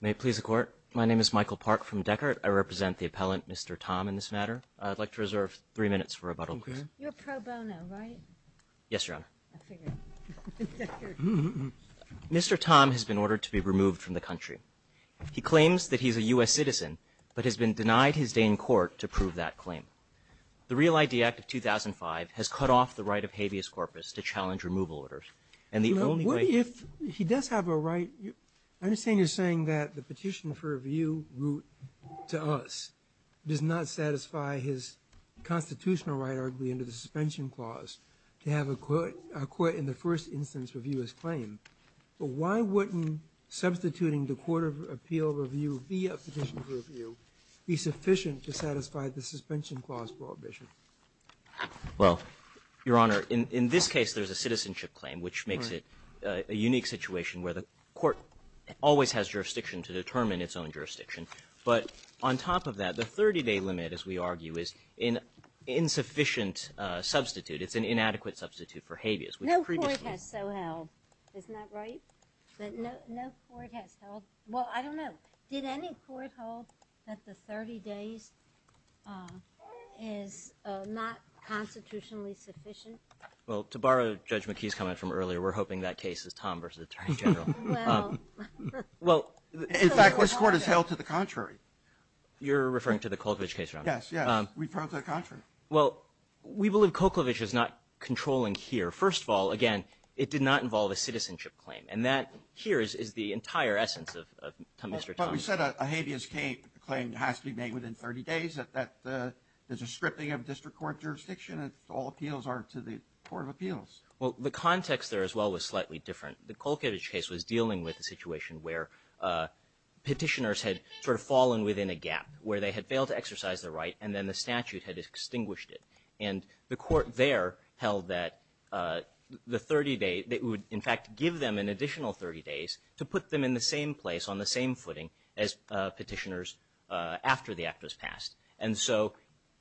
May it please the Court. My name is Michael Park from Deckert. I represent the appellant, Mr. Tom, in this matter. I'd like to reserve three minutes for rebuttal, please. You're pro bono, right? Yes, Your Honor. I figured. Mr. Tom has been ordered to be removed from the country. He claims that he's a U.S. citizen, but has been denied his day in court to prove that claim. The Real ID Act of 2005 has cut off the right of habeas corpus to challenge removal orders, and the only way... You know, what if he does have a right? I understand you're saying that the petition for review route to us does not satisfy his constitutional right, arguably, under the suspension clause to have a court in the first instance review his claim. But why wouldn't substituting the court of appeal review via petition for review be sufficient to satisfy the suspension clause prohibition? Well, Your Honor, in this case there's a citizenship claim, which makes it a unique situation where the court always has jurisdiction to determine its own jurisdiction. But on top of that, the 30-day limit, as we argue, is an insufficient substitute. It's an inadequate substitute for habeas. No court has so held. Isn't that right? But no court has held... Well, I don't know. Did any court hold that the 30 days is not constitutionally sufficient? Well, to borrow Judge McKee's comment from earlier, we're hoping that case is Tom versus Attorney General. Well... In fact, this court has held to the contrary. You're referring to the Koklovich case, Your Honor? Yes, yes. We've held to the contrary. Well, we believe Koklovich is not controlling here. First of all, again, it did not involve a citizenship claim. And that here is the entire essence of Mr. Tom's... But we said a habeas claim has to be made within 30 days. There's a scripting of district court jurisdiction. All appeals are to the court of appeals. Well, the context there as well was slightly different. The Koklovich case was dealing with a situation where Petitioners had sort of fallen within a gap where they had failed to exercise their right and then the statute had extinguished it. And the court there held that the 30 days... It would, in fact, give them an additional 30 days to put them in the same place, on the same footing as Petitioners after the act was passed. And so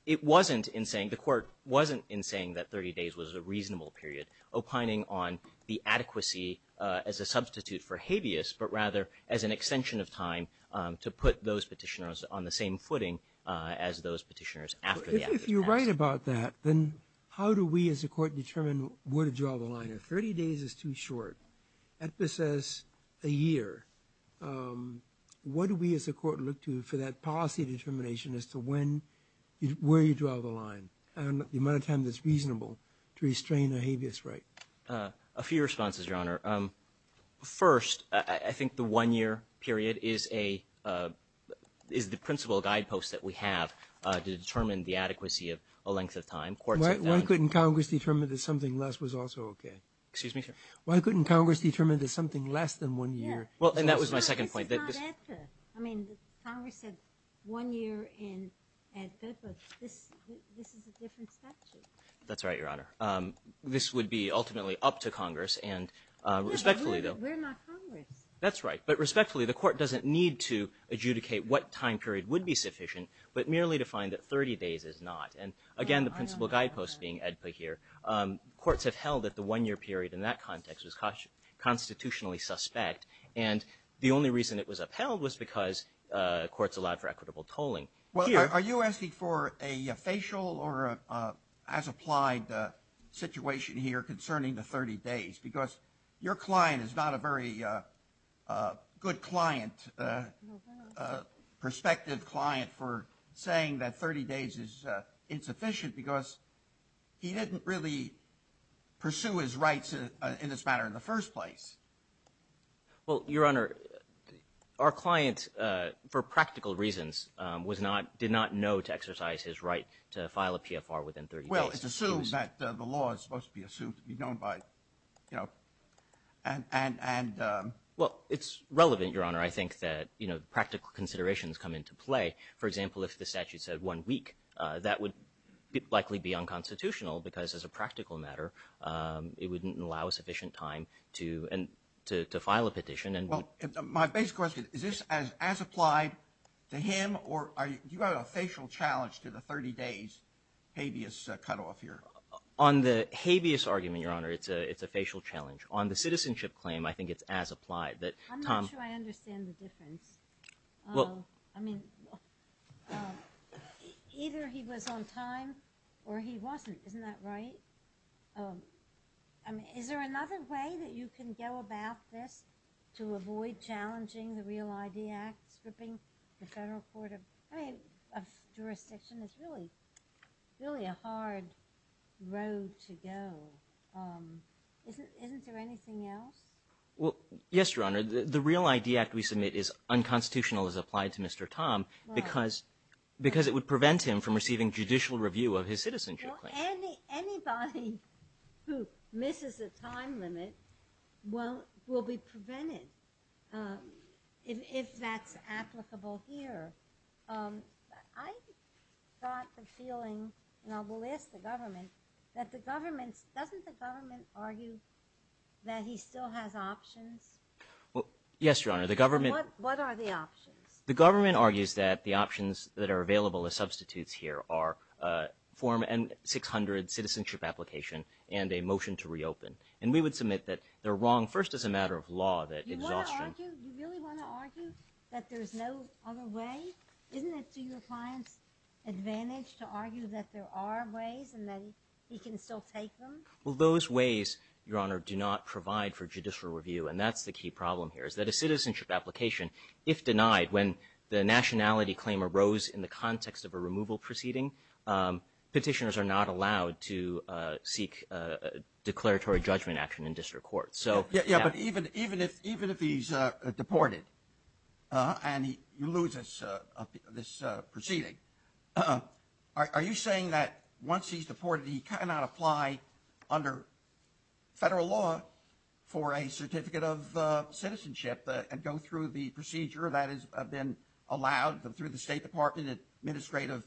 it wasn't in saying... The court wasn't in saying that 30 days was a reasonable period, opining on the adequacy as a substitute for habeas, but rather as an extension of time to put those Petitioners on the same footing as those Petitioners after the act was passed. If you're right about that, then how do we as a court determine where to draw the line? If 30 days is too short, EPPA says a year, what do we as a court look to for that policy determination as to when, where you draw the line, and the amount of time that's reasonable to restrain a habeas right? A few responses, Your Honor. First, I think the one-year period is the principal guidepost that we have to determine the adequacy of a length of time. Why couldn't Congress determine that something less was also okay? Excuse me, sir? Why couldn't Congress determine that something less than one year... Well, and that was my second point. This is not EPPA. I mean, Congress said one year in EPPA. This is a different statute. That's right, Your Honor. This would be ultimately up to Congress, and respectfully, though... We're not Congress. That's right. But respectfully, the court doesn't need to adjudicate what time period would be sufficient, but merely to find that 30 days is not. And again, the principal guidepost being EPPA here. Courts have held that the one-year period in that context was constitutionally suspect, and the only reason it was upheld was because courts allowed for equitable tolling. Well, are you asking for a facial or as-applied situation here concerning the 30 days? Because your client is not a very good client, a prospective client for saying that 30 days is insufficient because he didn't really pursue his rights in this matter in the first place. Well, Your Honor, our client, for practical reasons, did not know to exercise his right to file a PFR within 30 days. Well, it's assumed that the law is supposed to be assumed to be known by, you know, and... Well, it's relevant, Your Honor. I think that, you know, practical considerations come into play. For example, if the statute said one week, that would likely be unconstitutional because, as a practical matter, it wouldn't allow sufficient time to file a petition. Well, my basic question, is this as-applied to him, or do you have a facial challenge to the 30 days habeas cutoff here? On the habeas argument, Your Honor, it's a facial challenge. On the citizenship claim, I think it's as-applied. I'm not sure I understand the difference. Well, I mean, either he was on time or he wasn't. Isn't that right? I mean, is there another way that you can go about this to avoid challenging the REAL ID Act, stripping the federal court of jurisdiction? It's really a hard road to go. Isn't there anything else? Well, yes, Your Honor. The REAL ID Act we submit is unconstitutional as-applied to Mr. Tom because it would prevent him from receiving judicial review of his citizenship claim. Well, anybody who misses a time limit will be prevented, if that's applicable here. I got the feeling, and I will ask the government, that the government, doesn't the government argue that he still has options? Yes, Your Honor, the government. What are the options? The government argues that the options that are available as substitutes here are form M-600 citizenship application and a motion to reopen. And we would submit that they're wrong, first as a matter of law, that exhaustion. You want to argue, you really want to argue that there's no other way? Isn't it to your client's advantage to argue that there are ways and that he can still take them? Well, those ways, Your Honor, do not provide for judicial review, and that's the key problem here is that a citizenship application, if denied, when the nationality claim arose in the context of a removal proceeding, petitioners are not allowed to seek declaratory judgment action in district court. Yeah, but even if he's deported and he loses this proceeding, are you saying that once he's deported he cannot apply under federal law for a certificate of citizenship and go through the procedure that has been allowed through the State Department administrative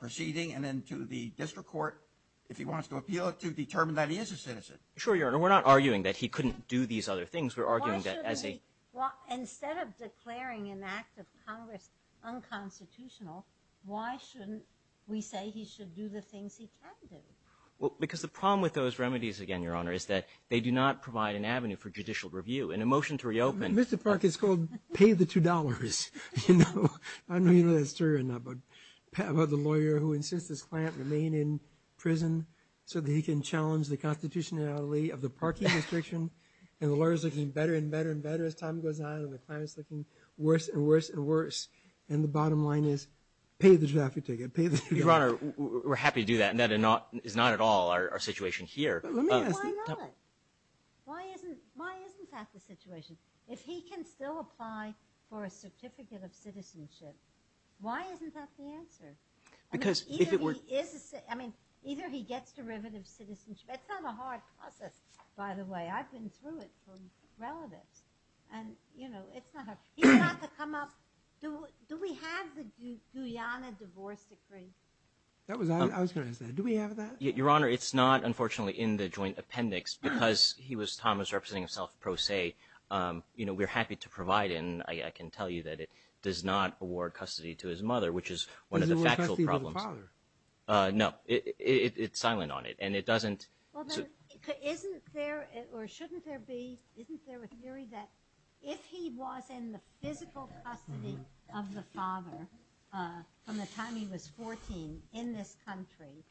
proceeding and then to the district court, if he wants to appeal it, to determine that he is a citizen? Sure, Your Honor. We're not arguing that he couldn't do these other things. Well, instead of declaring an act of Congress unconstitutional, why shouldn't we say he should do the things he can do? Well, because the problem with those remedies, again, Your Honor, is that they do not provide an avenue for judicial review. In a motion to reopen… Mr. Park, it's called pay the $2. I don't know if that's true or not, but the lawyer who insists his client remain in prison so that he can challenge the constitutionality of the parking restriction and the lawyer's looking better and better and better as time goes on and the client's looking worse and worse and worse, and the bottom line is pay the traffic ticket, pay the traffic ticket. Your Honor, we're happy to do that. That is not at all our situation here. Why not? Why isn't that the situation? If he can still apply for a certificate of citizenship, why isn't that the answer? Because if it were… I mean, either he gets derivative citizenship. It's not a hard process, by the way. I've been through it from relatives, and, you know, it's not hard. He's got to come up. Do we have the Guyana divorce decree? I was going to ask that. Do we have that? Your Honor, it's not, unfortunately, in the joint appendix because he was Thomas representing himself pro se. You know, we're happy to provide it, and I can tell you that it does not award custody to his mother, which is one of the factual problems. Does it award custody to the father? No. It's silent on it, and it doesn't… Well, then, isn't there, or shouldn't there be, isn't there a theory that if he was in the physical custody of the father from the time he was 14 in this country,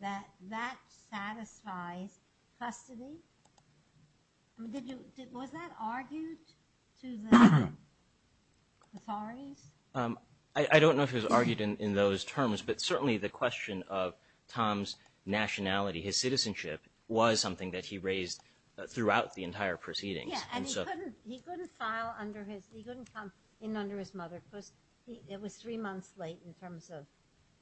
that that satisfies custody? Was that argued to the authorities? I don't know if it was argued in those terms, but certainly the question of Tom's nationality, his citizenship was something that he raised throughout the entire proceedings. Yeah, and he couldn't file under his, he couldn't come in under his mother because it was three months late in terms of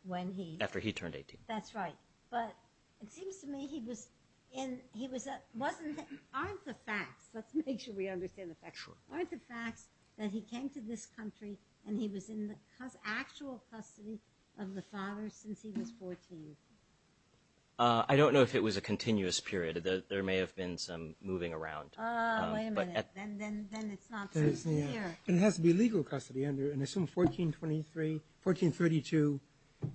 when he… After he turned 18. That's right. But it seems to me he was in, he was, wasn't, aren't the facts, let's make sure we understand the facts. Sure. Aren't the facts that he came to this country and he was in the actual custody of the father since he was 14? I don't know if it was a continuous period. There may have been some moving around. Wait a minute. Then it's not so clear. It has to be legal custody under, and I assume 1423, 1432,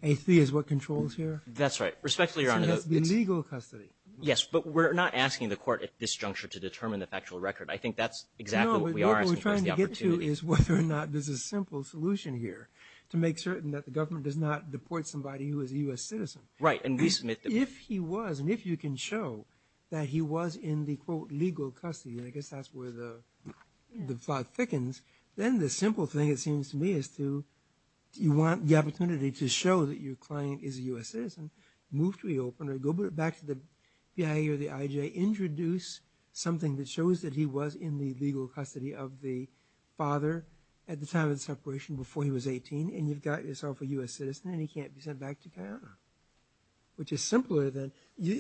83 is what controls here? That's right. Respectfully, Your Honor, it's… It has to be legal custody. Yes, but we're not asking the court at this juncture to determine the factual record. I think that's exactly what we are asking for is the opportunity. No, what we're trying to get to is whether or not there's a simple solution here to make certain that the government does not deport somebody who is a U.S. citizen. Right, and resubmit them. If he was, and if you can show that he was in the, quote, legal custody, and I guess that's where the plot thickens, then the simple thing it seems to me is to, you want the opportunity to show that your client is a U.S. citizen, move to the opener, go back to the BIA or the IJ, introduce something that shows that he was in the legal custody of the father at the time of the separation before he was 18, and you've got yourself a U.S. citizen and he can't be sent back to Guyana, which is simpler than,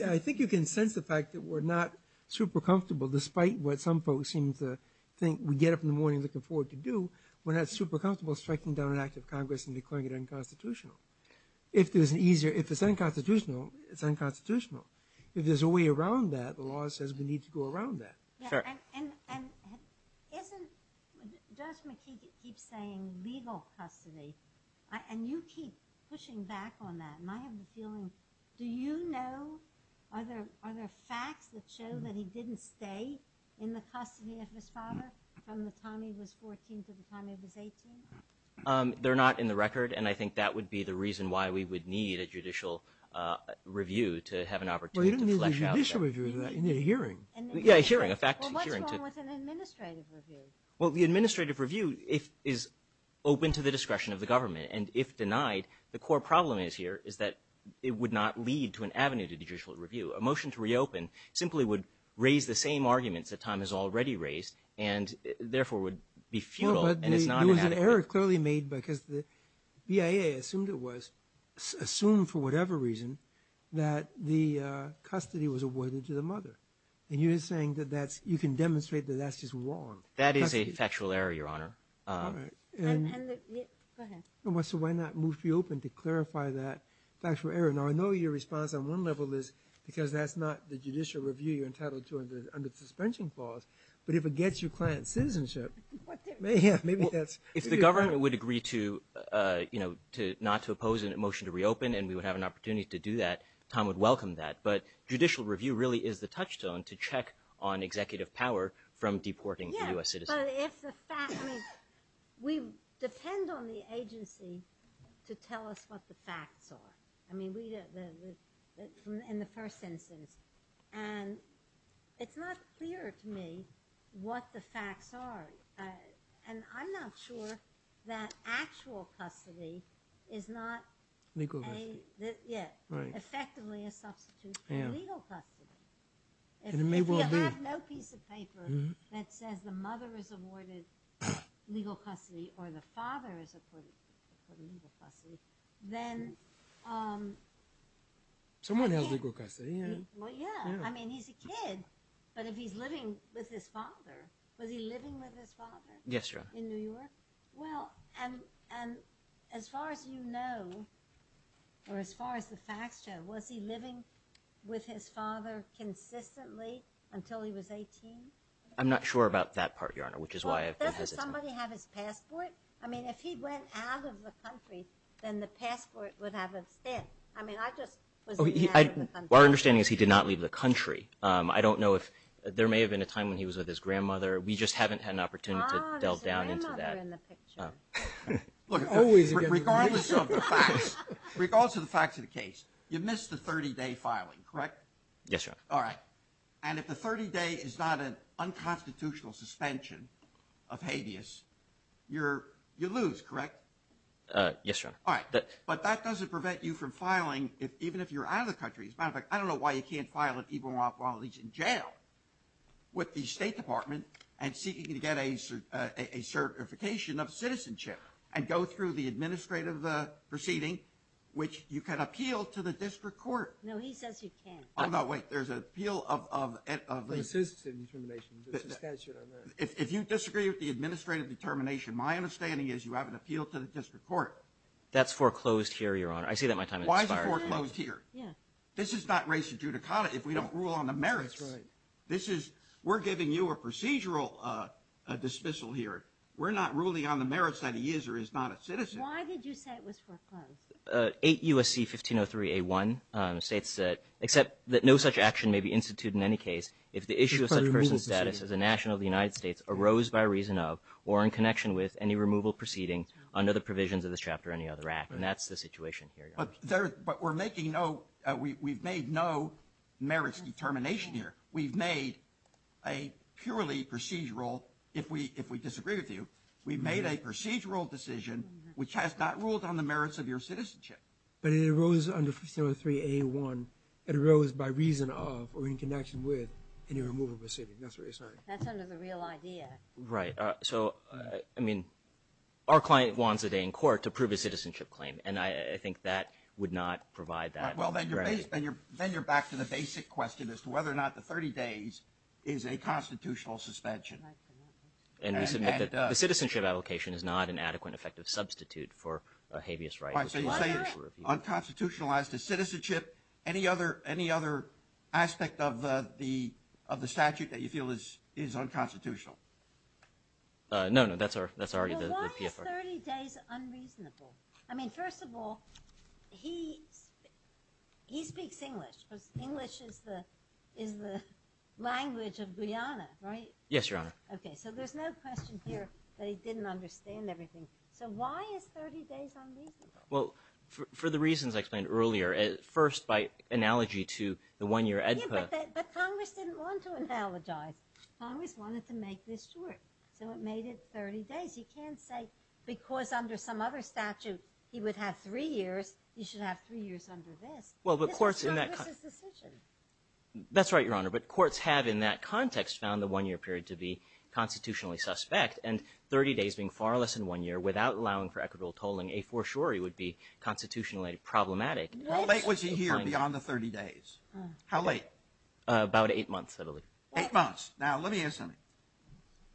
I think you can sense the fact that we're not super comfortable, despite what some folks seem to think we get up in the morning looking forward to do, we're not super comfortable striking down an act of Congress and declaring it unconstitutional. If there's an easier, if it's unconstitutional, it's unconstitutional. If there's a way around that, the law says we need to go around that. Sure. And isn't, Judge McKee keeps saying legal custody, and you keep pushing back on that, and I have the feeling, do you know, are there facts that show that he didn't stay in the custody of his father from the time he was 14 to the time he was 18? They're not in the record, and I think that would be the reason why we would need a judicial review to have an opportunity to flesh out that. Well, you don't need a judicial review for that, you need a hearing. Yeah, a hearing, a fact hearing. Well, what's wrong with an administrative review? Well, the administrative review is open to the discretion of the government, and if denied, the core problem here is that it would not lead to an avenue to judicial review. A motion to reopen simply would raise the same arguments that Tom has already raised and therefore would be futile, and it's not an avenue. Well, but there was an error clearly made because the BIA assumed it was, assumed for whatever reason, that the custody was awarded to the mother. And you're saying that that's, you can demonstrate that that's just wrong. That is a factual error, Your Honor. All right. Go ahead. So why not move to reopen to clarify that factual error? Now, I know your response on one level is because that's not the judicial review you're entitled to under the suspension clause, but if it gets your client citizenship, maybe that's. If the government would agree to, you know, not to oppose a motion to reopen and we would have an opportunity to do that, Tom would welcome that. But judicial review really is the touchstone to check on executive power from deporting U.S. citizens. Yeah, but if the fact, I mean, we depend on the agency to tell us what the facts are. I mean, we, in the first instance. And it's not clear to me what the facts are. And I'm not sure that actual custody is not. Legal custody. Yeah. Right. Effectively a substitute for legal custody. And it may well be. If you have no piece of paper that says the mother is awarded legal custody or the father is awarded legal custody, then. Someone held legal custody, yeah. Well, yeah. I mean, he's a kid. But if he's living with his father, was he living with his father? Yes, Your Honor. In New York? Well, and as far as you know, or as far as the facts show, was he living with his father consistently until he was 18? I'm not sure about that part, Your Honor, which is why I've been hesitant. Doesn't somebody have his passport? I mean, if he went out of the country, then the passport would have a stamp. I mean, I just was in the country. Our understanding is he did not leave the country. I don't know if there may have been a time when he was with his grandmother. We just haven't had an opportunity to delve down into that. Oh, there's a grandmother in the picture. Look, regardless of the facts of the case, you missed the 30-day filing, correct? Yes, Your Honor. All right. And if the 30-day is not an unconstitutional suspension of habeas, you lose, correct? Yes, Your Honor. All right. But that doesn't prevent you from filing even if you're out of the country. As a matter of fact, I don't know why you can't file it even while he's in jail with the State Department and seeking to get a certification of citizenship and go through the administrative proceeding, which you can appeal to the district court. No, he says you can't. Oh, no, wait. There's an appeal of leaving. The citizenship determination, the suspension on that. If you disagree with the administrative determination, my understanding is you have an appeal to the district court. That's foreclosed here, Your Honor. I say that my time has expired. Why is it foreclosed here? Yeah. This is not res judicata if we don't rule on the merits. That's right. This is we're giving you a procedural dismissal here. We're not ruling on the merits that he is or is not a citizen. Why did you say it was foreclosed? 8 U.S.C. 1503A1 states that, except that no such action may be instituted in any case if the issue of such person's status as a national of the United States arose by reason of or in connection with any removal proceeding And that's the situation here, Your Honor. But we're making no, we've made no merits determination here. We've made a purely procedural, if we disagree with you, we've made a procedural decision which has not ruled on the merits of your citizenship. But it arose under 1503A1. It arose by reason of or in connection with any removal proceeding. That's what you're saying. That's under the real idea. Right. So, I mean, our client wants a day in court to prove his citizenship claim. And I think that would not provide that. Well, then you're back to the basic question as to whether or not the 30 days is a constitutional suspension. And the citizenship allocation is not an adequate and effective substitute for a habeas right. So you say it's unconstitutionalized as citizenship. Any other aspect of the statute that you feel is unconstitutional? No, no, that's already the PFR. Well, why is 30 days unreasonable? I mean, first of all, he speaks English because English is the language of Guyana, right? Yes, Your Honor. Okay, so there's no question here that he didn't understand everything. So why is 30 days unreasonable? Well, for the reasons I explained earlier. First, by analogy to the one-year EDPA. Yeah, but Congress didn't want to analogize. Congress wanted to make this short. So it made it 30 days. He can't say because under some other statute he would have three years, he should have three years under this. This is Congress's decision. That's right, Your Honor. But courts have in that context found the one-year period to be constitutionally suspect. And 30 days being far less than one year without allowing for equitable tolling, a fortiori would be constitutionally problematic. How late was he here beyond the 30 days? How late? About eight months, I believe. Eight months. Now, let me ask something.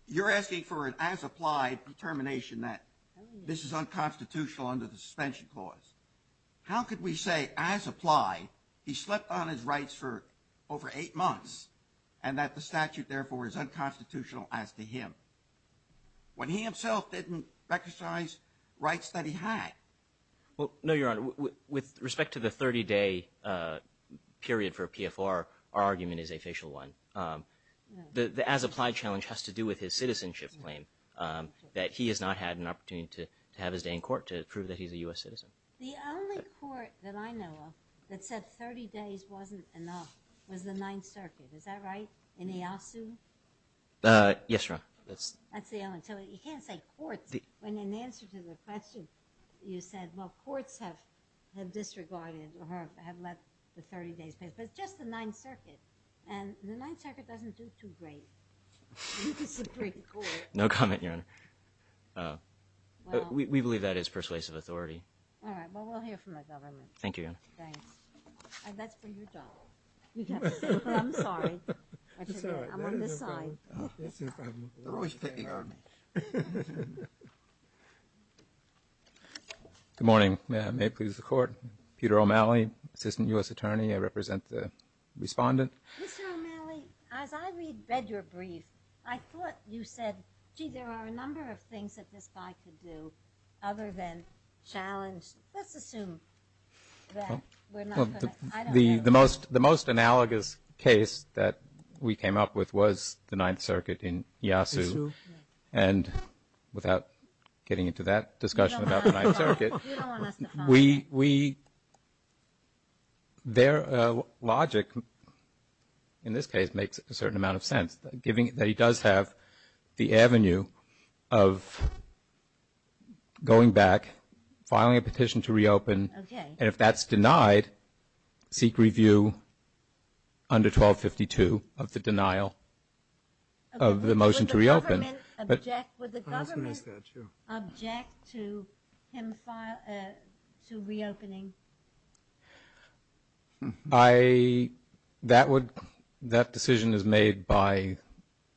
You're asking for an as-applied determination that this is unconstitutional under the suspension clause. How could we say as-applied he slept on his rights for over eight months and that the statute, therefore, is unconstitutional as to him when he himself didn't recognize rights that he had? Well, no, Your Honor. With respect to the 30-day period for PFR, our argument is a facial one. The as-applied challenge has to do with his citizenship claim, that he has not had an opportunity to have his day in court to prove that he's a U.S. citizen. The only court that I know of that said 30 days wasn't enough was the Ninth Circuit. Is that right? In Ieyasu? Yes, Your Honor. That's the only one. So you can't say courts when in answer to the question you said, well, courts have disregarded or have let the 30 days pass. But it's just the Ninth Circuit. And the Ninth Circuit doesn't do too great in the Supreme Court. No comment, Your Honor. We believe that is persuasive authority. All right. Well, we'll hear from the government. Thank you, Your Honor. Thanks. And that's from your job. I'm sorry. I'm on this side. Good morning. May it please the Court. Peter O'Malley, Assistant U.S. Attorney. I represent the respondent. Mr. O'Malley, as I read your brief, I thought you said, gee, there are a number of things that this guy could do other than challenge. Let's assume that we're not going to. I don't know. The most analogous case that we came up with was the Ninth Circuit in Ieyasu. And without getting into that discussion about the Ninth Circuit, their logic in this case makes a certain amount of sense, that he does have the avenue of going back, filing a petition to reopen, and if that's denied, seek review under 1252 of the denial of the motion to reopen. Would the government object to him reopening? That decision is made by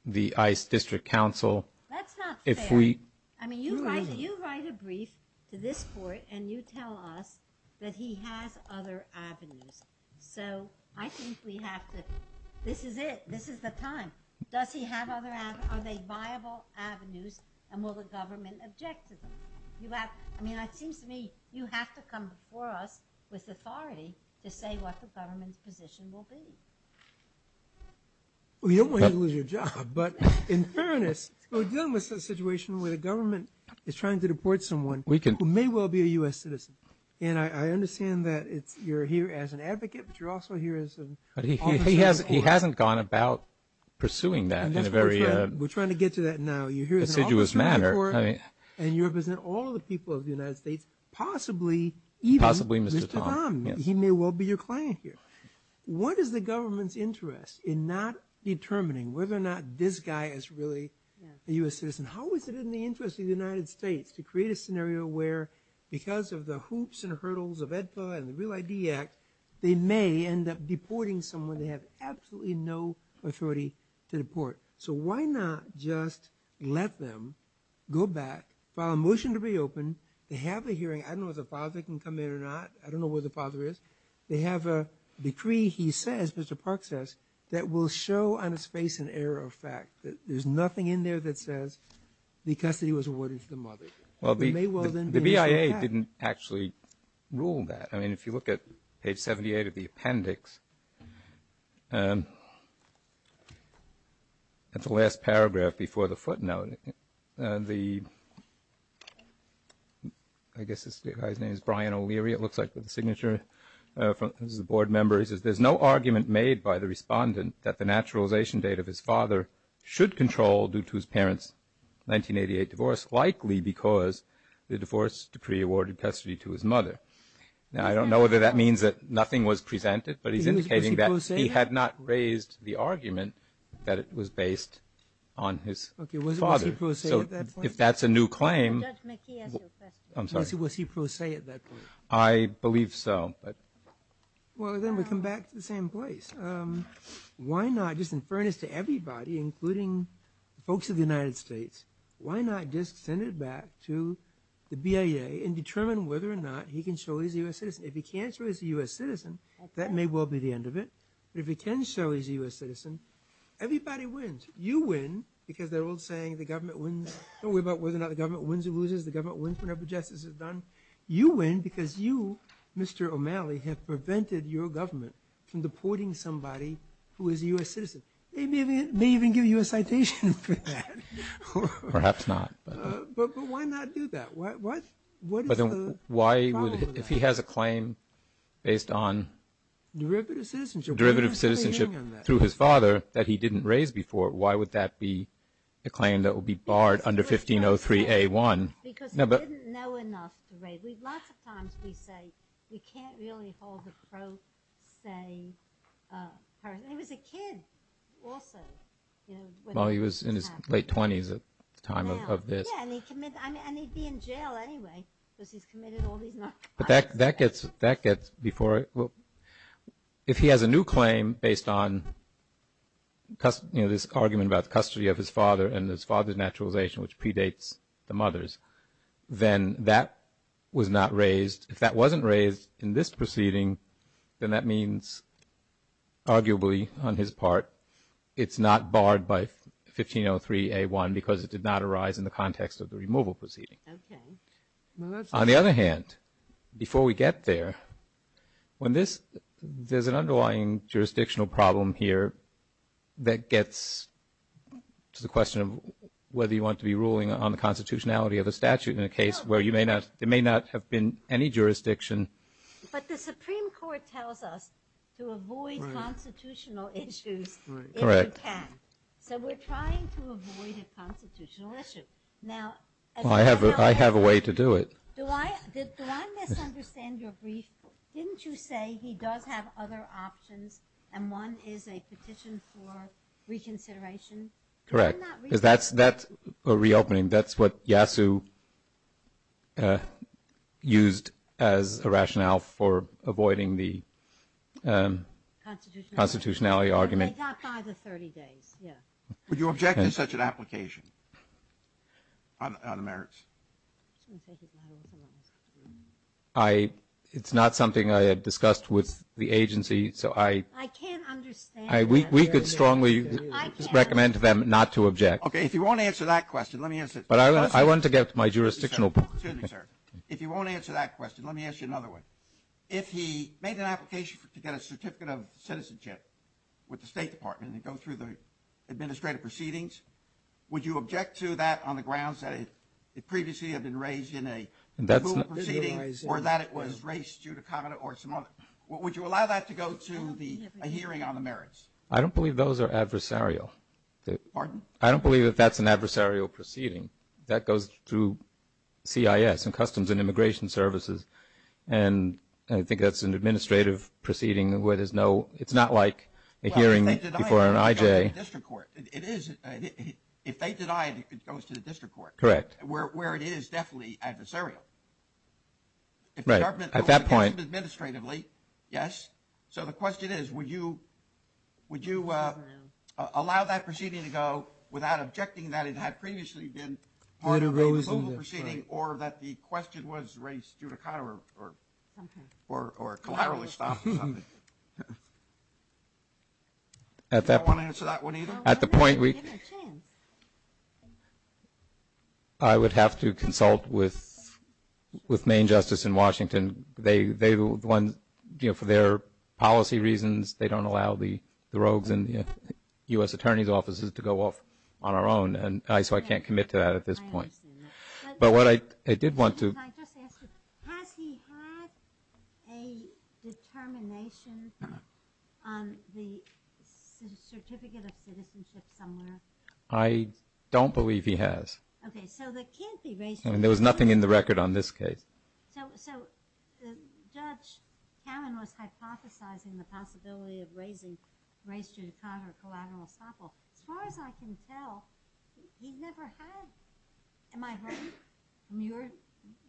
the ICE District Council. That's not fair. I mean, you write a brief to this Court, and you tell us that he has other avenues. So I think we have to, this is it. This is the time. Does he have other avenues? Are they viable avenues, and will the government object to them? I mean, it seems to me you have to come before us with authority to say what the government's position will be. Well, you don't want to lose your job, but in fairness, we're dealing with a situation where the government is trying to deport someone who may well be a U.S. citizen. And I understand that you're here as an advocate, but you're also here as an officer. But he hasn't gone about pursuing that in a very deciduous manner. And you represent all the people of the United States, possibly even Mr. Tom. He may well be your client here. What is the government's interest in not determining whether or not this guy is really a U.S. citizen? How is it in the interest of the United States to create a scenario where because of the hoops and hurdles of AEDPA and the Real ID Act, they may end up deporting someone they have absolutely no authority to deport? So why not just let them go back, file a motion to reopen. They have a hearing. I don't know if the father can come in or not. I don't know where the father is. They have a decree, he says, Mr. Park says, that will show on his face an error of fact, that there's nothing in there that says the custody was awarded to the mother. Well, the BIA didn't actually rule that. I mean, if you look at page 78 of the appendix, that's the last paragraph before the footnote. I guess this guy's name is Brian O'Leary, it looks like, with the signature from the board members. There's no argument made by the respondent that the naturalization date of his father should control due to his parents' 1988 divorce, but it's likely because the divorce decree awarded custody to his mother. Now, I don't know whether that means that nothing was presented, but he's indicating that he had not raised the argument that it was based on his father. So if that's a new claim, I'm sorry. Was he pro se at that point? I believe so. Well, then we come back to the same place. Why not, just in fairness to everybody, including the folks of the United States, why not just send it back to the BIA and determine whether or not he can show he's a U.S. citizen? If he can't show he's a U.S. citizen, that may well be the end of it. But if he can show he's a U.S. citizen, everybody wins. You win because they're all saying the government wins. Don't worry about whether or not the government wins or loses. The government wins whenever justice is done. You win because you, Mr. O'Malley, have prevented your government from deporting somebody who is a U.S. citizen. They may even give you a citation for that. Perhaps not. But why not do that? What is the problem with that? If he has a claim based on derivative citizenship through his father that he didn't raise before, why would that be a claim that would be barred under 1503A1? Because he didn't know enough to raise. Lots of times we say we can't really hold a pro se person. He was a kid also. Well, he was in his late 20s at the time of this. Yeah, and he'd be in jail anyway because he's committed all these narcotics. But that gets before it. If he has a new claim based on this argument about the custody of his father and his father's naturalization, which predates the mother's, then that was not raised. If that wasn't raised in this proceeding, then that means arguably on his part, it's not barred by 1503A1 because it did not arise in the context of the removal proceeding. Okay. On the other hand, before we get there, there's an underlying jurisdictional problem here that gets to the question of whether you want to be ruling on the constitutionality of the statute in a case where there may not have been any jurisdiction. But the Supreme Court tells us to avoid constitutional issues if you can. So we're trying to avoid a constitutional issue. I have a way to do it. Did I misunderstand your brief? Didn't you say he does have other options and one is a petition for reconsideration? Correct. That's a reopening. That's what Yasu used as a rationale for avoiding the constitutionality argument. Would you object to such an application on the merits? It's not something I had discussed with the agency. I can't understand. We could strongly recommend to them not to object. Okay. If you want to answer that question, let me answer it. But I want to get to my jurisdictional point. Excuse me, sir. If you want to answer that question, let me ask you another one. If he made an application to get a certificate of citizenship with the State Department and go through the administrative proceedings, would you object to that on the grounds that it previously had been raised in a removal proceeding or that it was raised due to comment or some other? Would you allow that to go to a hearing on the merits? I don't believe those are adversarial. Pardon? I don't believe that that's an adversarial proceeding. That goes through CIS, Customs and Immigration Services, and I think that's an administrative proceeding where it's not like a hearing before an IJ. If they deny it, it goes to the district court. Correct. Where it is definitely adversarial. Right. At that point. Yes. So the question is, would you allow that proceeding to go without objecting that it had previously been part of a removal proceeding or that the question was raised due to comment or collateral or something? Do you want to answer that one either? At the point, I would have to consult with Maine Justice in Washington. They are the ones, for their policy reasons, they don't allow the rogues in the U.S. Attorney's offices to go off on our own, so I can't commit to that at this point. I understand that. But what I did want to. Has he had a determination on the certificate of citizenship somewhere? I don't believe he has. Okay. So there can't be racial. There was nothing in the record on this case. So Judge Cannon was hypothesizing the possibility of raising race due to comment or collateral or something. As far as I can tell, he never had. Am I right? From your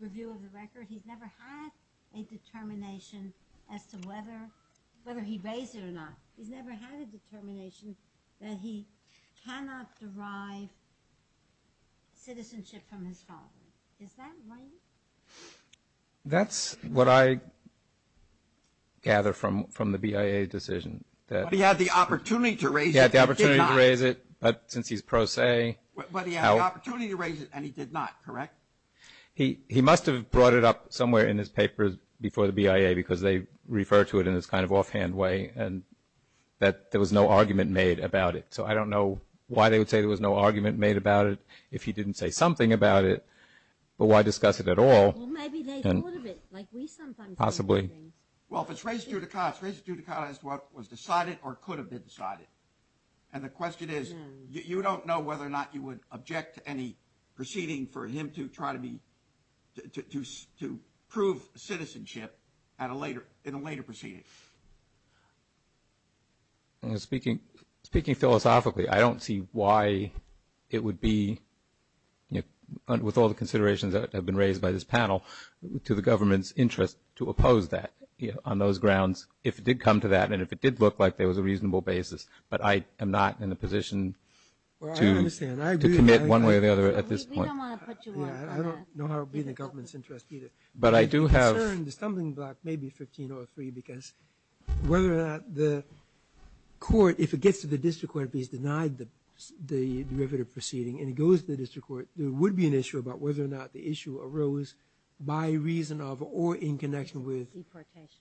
review of the record, he's never had a determination as to whether he'd raise it or not. He's never had a determination that he cannot derive citizenship from his father. Is that right? That's what I gather from the BIA decision. But he had the opportunity to raise it. He had the opportunity to raise it, but since he's pro se. But he had the opportunity to raise it, and he did not, correct? He must have brought it up somewhere in his papers before the BIA because they refer to it in this kind of offhand way that there was no argument made about it. So I don't know why they would say there was no argument made about it if he didn't say something about it, but why discuss it at all? Well, maybe they thought of it like we sometimes do. Possibly. Well, if it's race due to comment, it's race due to comment as to what was decided or could have been decided. And the question is, you don't know whether or not you would object to any proceeding for him to try to prove citizenship in a later proceeding. Speaking philosophically, I don't see why it would be, with all the considerations that have been raised by this panel, to the government's interest to oppose that on those grounds if it did come to that and if it did look like there was a reasonable basis, but I am not in a position to commit one way or the other at this point. We don't want to put you off on that. I don't know how it would be in the government's interest either. But I do have – The concern, the stumbling block may be 15-03 because whether or not the court, if it gets to the district court and it's denied the derivative proceeding and it goes to the district court, there would be an issue about whether or not the issue arose by reason of or in connection with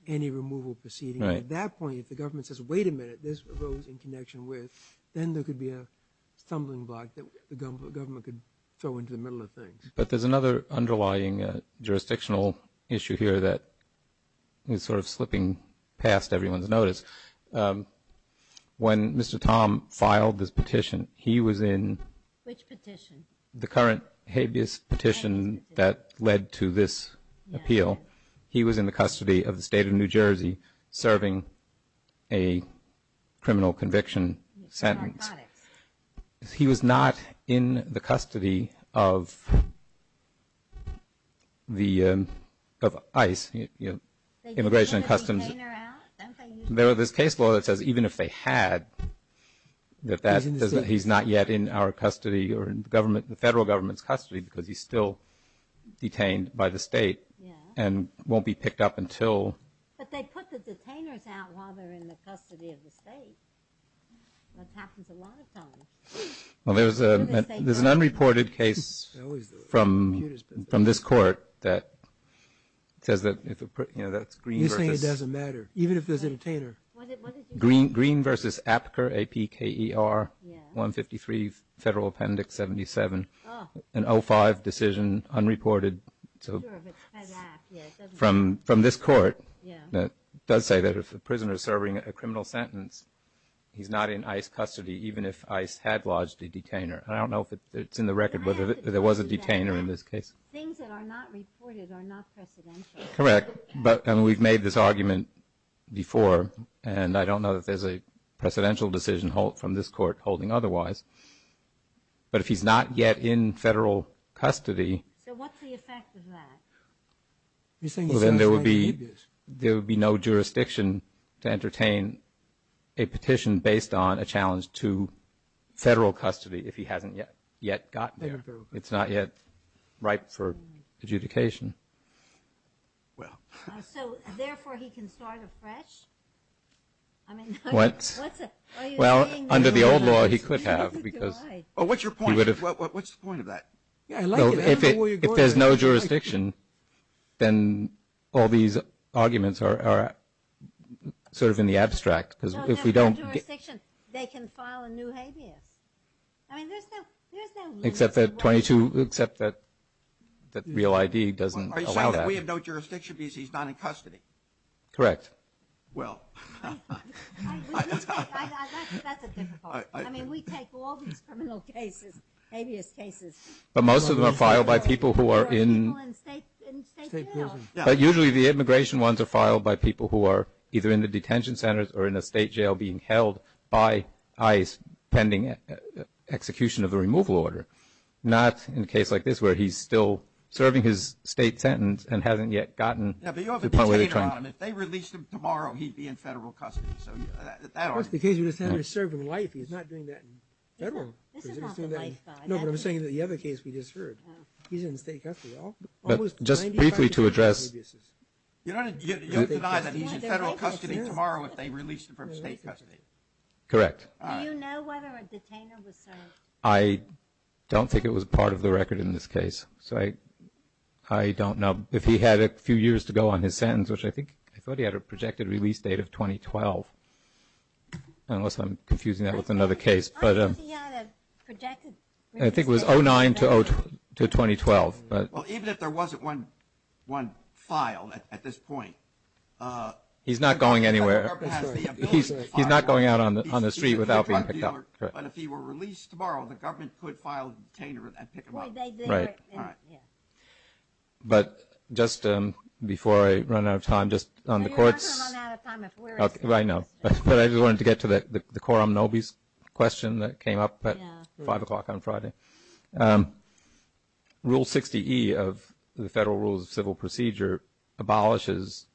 any removal proceeding. At that point, if the government says, wait a minute, this arose in connection with, then there could be a stumbling block that the government could throw into the middle of things. But there's another underlying jurisdictional issue here that is sort of slipping past everyone's notice. When Mr. Tom filed this petition, he was in – Which petition? The current habeas petition that led to this appeal. He was in the custody of the state of New Jersey serving a criminal conviction sentence. Narcotics. He was not in the custody of ICE, Immigration and Customs. They didn't want to detain her out? There was this case law that says even if they had, that he's not yet in our custody or the federal government's custody because he's still detained by the state. And won't be picked up until – But they put the detainers out while they're in the custody of the state. That happens a lot of times. There's an unreported case from this court that says that – You're saying it doesn't matter, even if there's a detainer. Green v. Apker, A-P-K-E-R, 153 Federal Appendix 77. An 05 decision, unreported. From this court, it does say that if a prisoner is serving a criminal sentence, he's not in ICE custody even if ICE had lodged a detainer. I don't know if it's in the record whether there was a detainer in this case. Things that are not reported are not precedential. Correct. But we've made this argument before, and I don't know if there's a precedential decision from this court holding otherwise. But if he's not yet in federal custody – So what's the effect of that? Well, then there would be no jurisdiction to entertain a petition based on a challenge to federal custody if he hasn't yet gotten there. It's not yet ripe for adjudication. So, therefore, he can start afresh? What? Well, under the old law, he could have. What's the point of that? If there's no jurisdiction, then all these arguments are sort of in the abstract because if we don't – No, there's no jurisdiction. They can file a new habeas. I mean, there's no – Except that 22 – except that real ID doesn't allow that. Are you saying that we have no jurisdiction because he's not in custody? Correct. Well – That's a difficult – But most of them are filed by people who are in – People in state jail. But usually the immigration ones are filed by people who are either in the detention centers or in a state jail being held by ICE pending execution of the removal order, not in a case like this where he's still serving his state sentence and hasn't yet gotten to the point where they're trying – Yeah, but you have a detainer on him. If they released him tomorrow, he'd be in federal custody. So that argument – Well, that's the case where he's serving life. He's not doing that in federal. No, but I'm saying that the other case we just heard, he's in state custody. Just briefly to address – You don't deny that he's in federal custody tomorrow if they released him from state custody. Correct. Do you know whether a detainer was served? I don't think it was part of the record in this case. So I don't know. If he had a few years to go on his sentence, which I think – I thought he had a projected release date of 2012, unless I'm confusing that with another case. I thought he had a projected release date. I think it was 2009 to 2012. Well, even if there wasn't one filed at this point – He's not going anywhere. He's not going out on the street without being picked up. But if he were released tomorrow, the government could file a detainer and pick him up. Right. But just before I run out of time, just on the courts – You're not going to run out of time if we're – Right, no. But I just wanted to get to the Coram Nobis question that came up at 5 o'clock on Friday. Rule 60E of the Federal Rules of Civil Procedure abolishes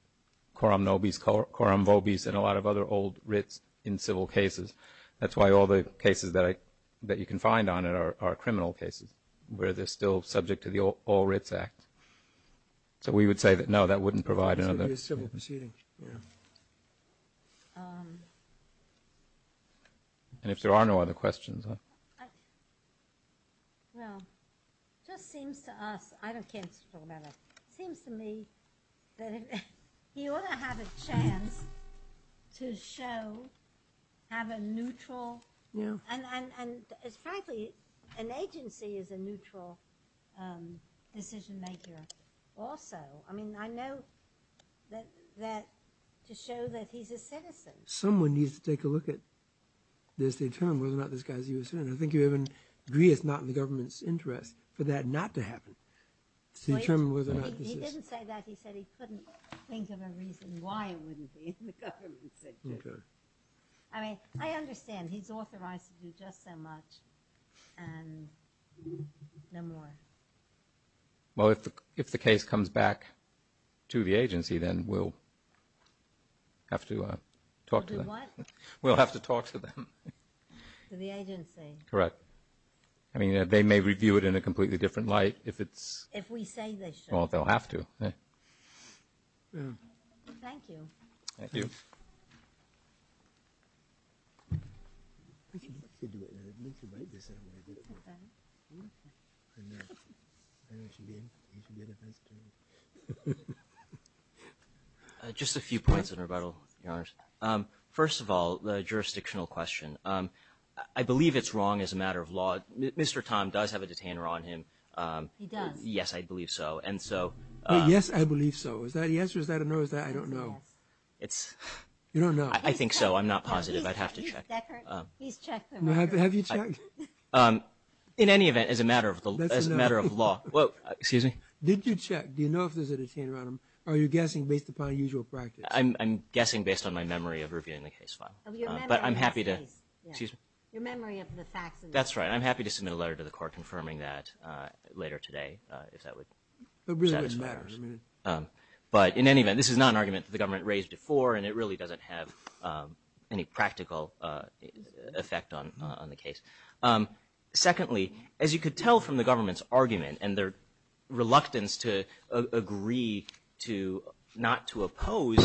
Coram Nobis, Coram Vobis, and a lot of other old writs in civil cases. That's why all the cases that you can find on it are criminal cases, where they're still subject to the All Writs Act. So we would say that, no, that wouldn't provide another – Yeah. And if there are no other questions – Well, it just seems to us – I don't care to talk about it. It seems to me that he ought to have a chance to show, have a neutral – Yeah. And frankly, an agency is a neutral decision-maker also. I mean, I know that – to show that he's a citizen. Someone needs to take a look at this to determine whether or not this guy's a U.S. citizen. I think you have an agree-it's-not-in-the-government's interest for that not to happen. To determine whether or not this is – He didn't say that. He said he couldn't think of a reason why it wouldn't be in the government's interest. Okay. I mean, I understand he's authorized to do just so much and no more. Well, if the case comes back to the agency, then we'll have to talk to them. We'll do what? We'll have to talk to them. To the agency. Correct. I mean, they may review it in a completely different light if it's – If we say they should. Well, they'll have to. Thank you. Thank you. Thank you. Just a few points in rebuttal, Your Honors. First of all, the jurisdictional question. I believe it's wrong as a matter of law. Mr. Tom does have a detainer on him. He does? Yes, I believe so. Is that a yes or is that a no? I don't know. It's – You don't know? I think so. I'm not positive. I'd have to check. He's checked. Have you checked? In any event, as a matter of law – That's a no. Excuse me? Did you check? Do you know if there's a detainer on him? Are you guessing based upon usual practice? I'm guessing based on my memory of reviewing the case file. But I'm happy to – That's right. I'm happy to submit a letter to the court confirming that later today if that would satisfy us. It really doesn't matter. But in any event, this is not an argument that the government raised before, and it really doesn't have any practical effect on the case. Secondly, as you could tell from the government's argument and their reluctance to agree not to oppose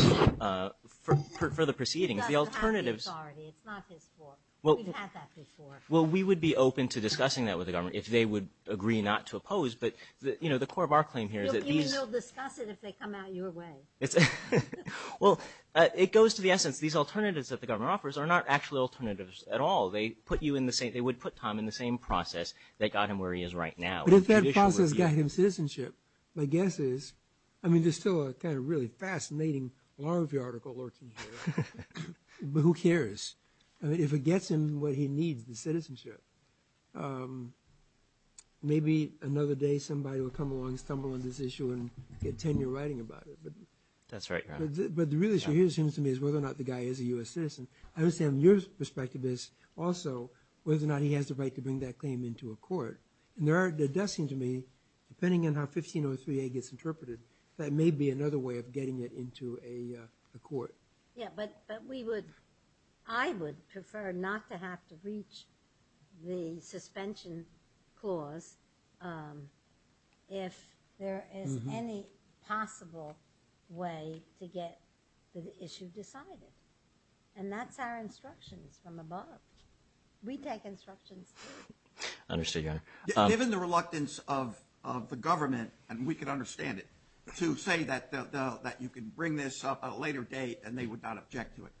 further proceedings, the alternatives – It's not his authority. It's not his fault. We've had that before. Well, we would be open to discussing that with the government if they would agree not to oppose. But, you know, the core of our claim here is that these – You mean they'll discuss it if they come out your way? Well, it goes to the essence. These alternatives that the government offers are not actually alternatives at all. They put you in the same – they would put Tom in the same process that got him where he is right now. But if that process got him citizenship, my guess is – I mean, there's still a kind of really fascinating larvae article lurking here. But who cares? I mean, if it gets him what he needs, the citizenship, maybe another day somebody will come along and stumble on this issue and get tenure writing about it. That's right, Your Honor. But the real issue here seems to me is whether or not the guy is a U.S. citizen. I understand your perspective is also whether or not he has the right to bring that claim into a court. And there does seem to me, depending on how 1503A gets interpreted, that may be another way of getting it into a court. Yeah, but we would – I would prefer not to have to reach the suspension clause if there is any possible way to get the issue decided. And that's our instructions from above. We take instructions, too. Understood, Your Honor. Given the reluctance of the government – and we can understand it – to say that you can bring this up at a later date and they would not object to it,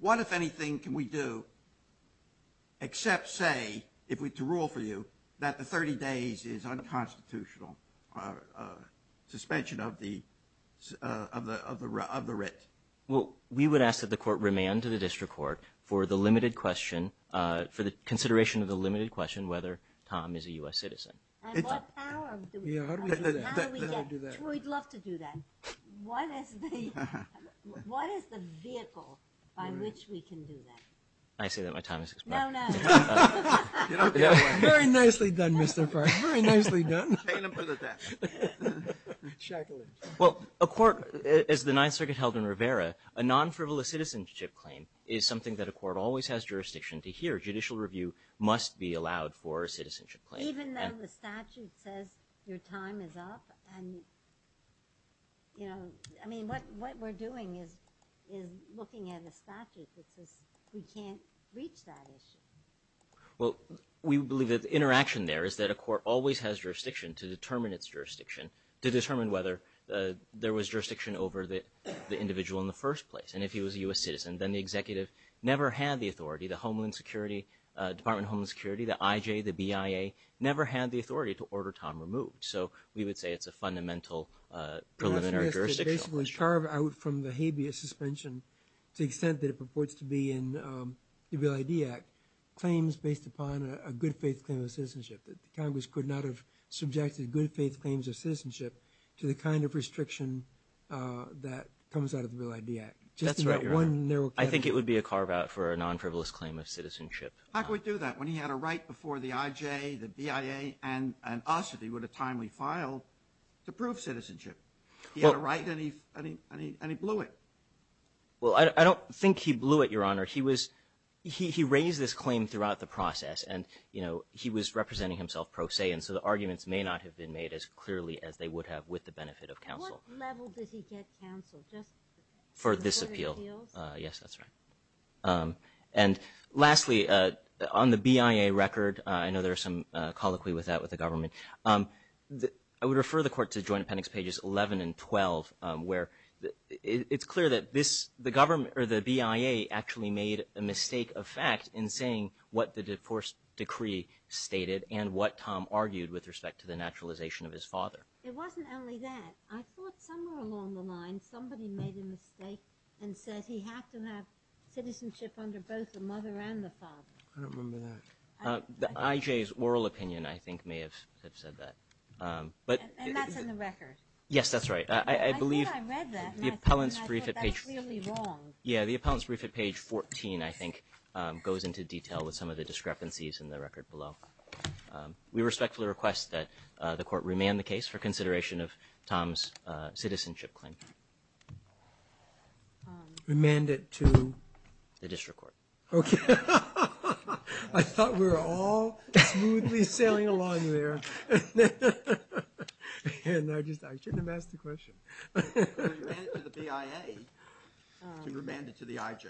what, if anything, can we do except say, to rule for you, that the 30 days is unconstitutional suspension of the writ? Well, we would ask that the court remand to the district court for the limited question – for the consideration of the limited question whether Tom is a U.S. citizen. Yeah, how do we do that? We'd love to do that. What is the vehicle by which we can do that? May I say that my time has expired? No, no. Very nicely done, Mr. Farr. Very nicely done. Well, a court, as the Ninth Circuit held in Rivera, a non-frivolous citizenship claim is something that a court always has jurisdiction to hear. Judicial review must be allowed for a citizenship claim. Even though the statute says your time is up and, you know, I mean, what we're doing is looking at the statute that says we can't reach that issue. Well, we believe that the interaction there is that a court always has jurisdiction to determine its jurisdiction, to determine whether there was jurisdiction over the individual in the first place. And if he was a U.S. citizen, then the executive never had the authority, the Homeland Security, Department of Homeland Security, the IJ, the BIA, never had the authority to order time removed. So we would say it's a fundamental preliminary jurisdiction. The question is to basically carve out from the habeas suspension, to the extent that it purports to be in the Real ID Act, claims based upon a good-faith claim of citizenship, that the Congress could not have subjected good-faith claims of citizenship to the kind of restriction that comes out of the Real ID Act. That's right, Your Honor. I think it would be a carve-out for a non-frivolous claim of citizenship. How could we do that when he had a right before the IJ, the BIA, and us at the time we filed to prove citizenship? He had a right and he blew it. Well, I don't think he blew it, Your Honor. He raised this claim throughout the process, and, you know, he was representing himself pro se, and so the arguments may not have been made as clearly as they would have with the benefit of counsel. At what level did he get counsel? Just for this appeal? Yes, that's right. And lastly, on the BIA record, I know there's some colloquy with that with the government. I would refer the Court to Joint Appendix Pages 11 and 12, where it's clear that the BIA actually made a mistake of fact in saying what the divorce decree stated and what Tom argued with respect to the naturalization of his father. It wasn't only that. I thought somewhere along the line somebody made a mistake and said he had to have citizenship under both the mother and the father. I don't remember that. The IJ's oral opinion, I think, may have said that. And that's in the record? Yes, that's right. I think I read that, and I thought that was clearly wrong. Yeah, the Appellant's Brief at Page 14, I think, goes into detail with some of the discrepancies in the record below. We respectfully request that the Court remand the case for consideration of Tom's citizenship claim. Remand it to? The District Court. I thought we were all smoothly sailing along there. I shouldn't have asked the question. Remand it to the BIA. Remand it to the IJ.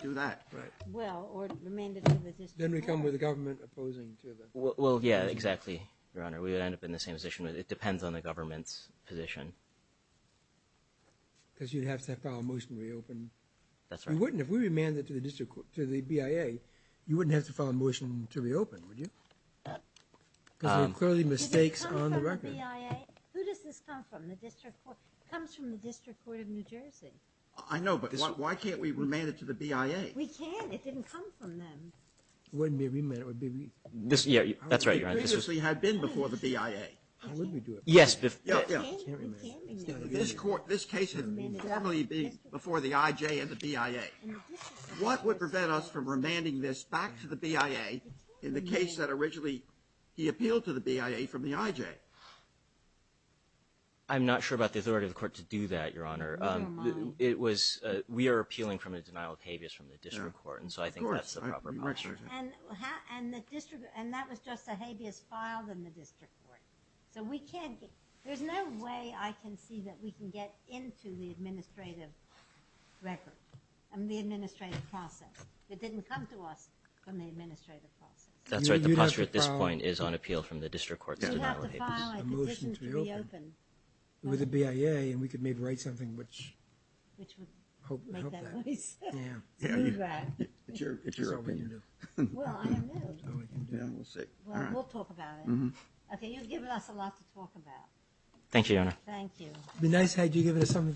Do that. Well, or remand it to the District Court. Then we come with the government opposing to it. Well, yeah, exactly, Your Honor. We would end up in the same position. It depends on the government's position. Because you'd have to file a motion to reopen. That's right. If we remand it to the BIA, you wouldn't have to file a motion to reopen, would you? Because there are clearly mistakes on the record. Who does this come from, the District Court? It comes from the District Court of New Jersey. I know, but why can't we remand it to the BIA? We can. It didn't come from them. It wouldn't be a remand. That's right, Your Honor. It previously had been before the BIA. Yes. It can't be remanded. This case had formerly been before the IJ and the BIA. What would prevent us from remanding this back to the BIA in the case that originally he appealed to the BIA from the IJ? I'm not sure about the authority of the Court to do that, Your Honor. Never mind. We are appealing from a denial of habeas from the District Court, and so I think that's the proper posture. And that was just a habeas filed in the District Court. There's no way I can see that we can get into the administrative process. It didn't come to us from the administrative process. That's right. The posture at this point is on appeal from the District Court's denial of habeas. You'd have to file a petition to reopen with the BIA, and we could maybe write something which would help that. Yeah. It's all we can do. Well, I don't know. It's all we can do. We'll see. Well, we'll talk about it. Okay, you've given us a lot to talk about. Thank you, Your Honor. Thank you.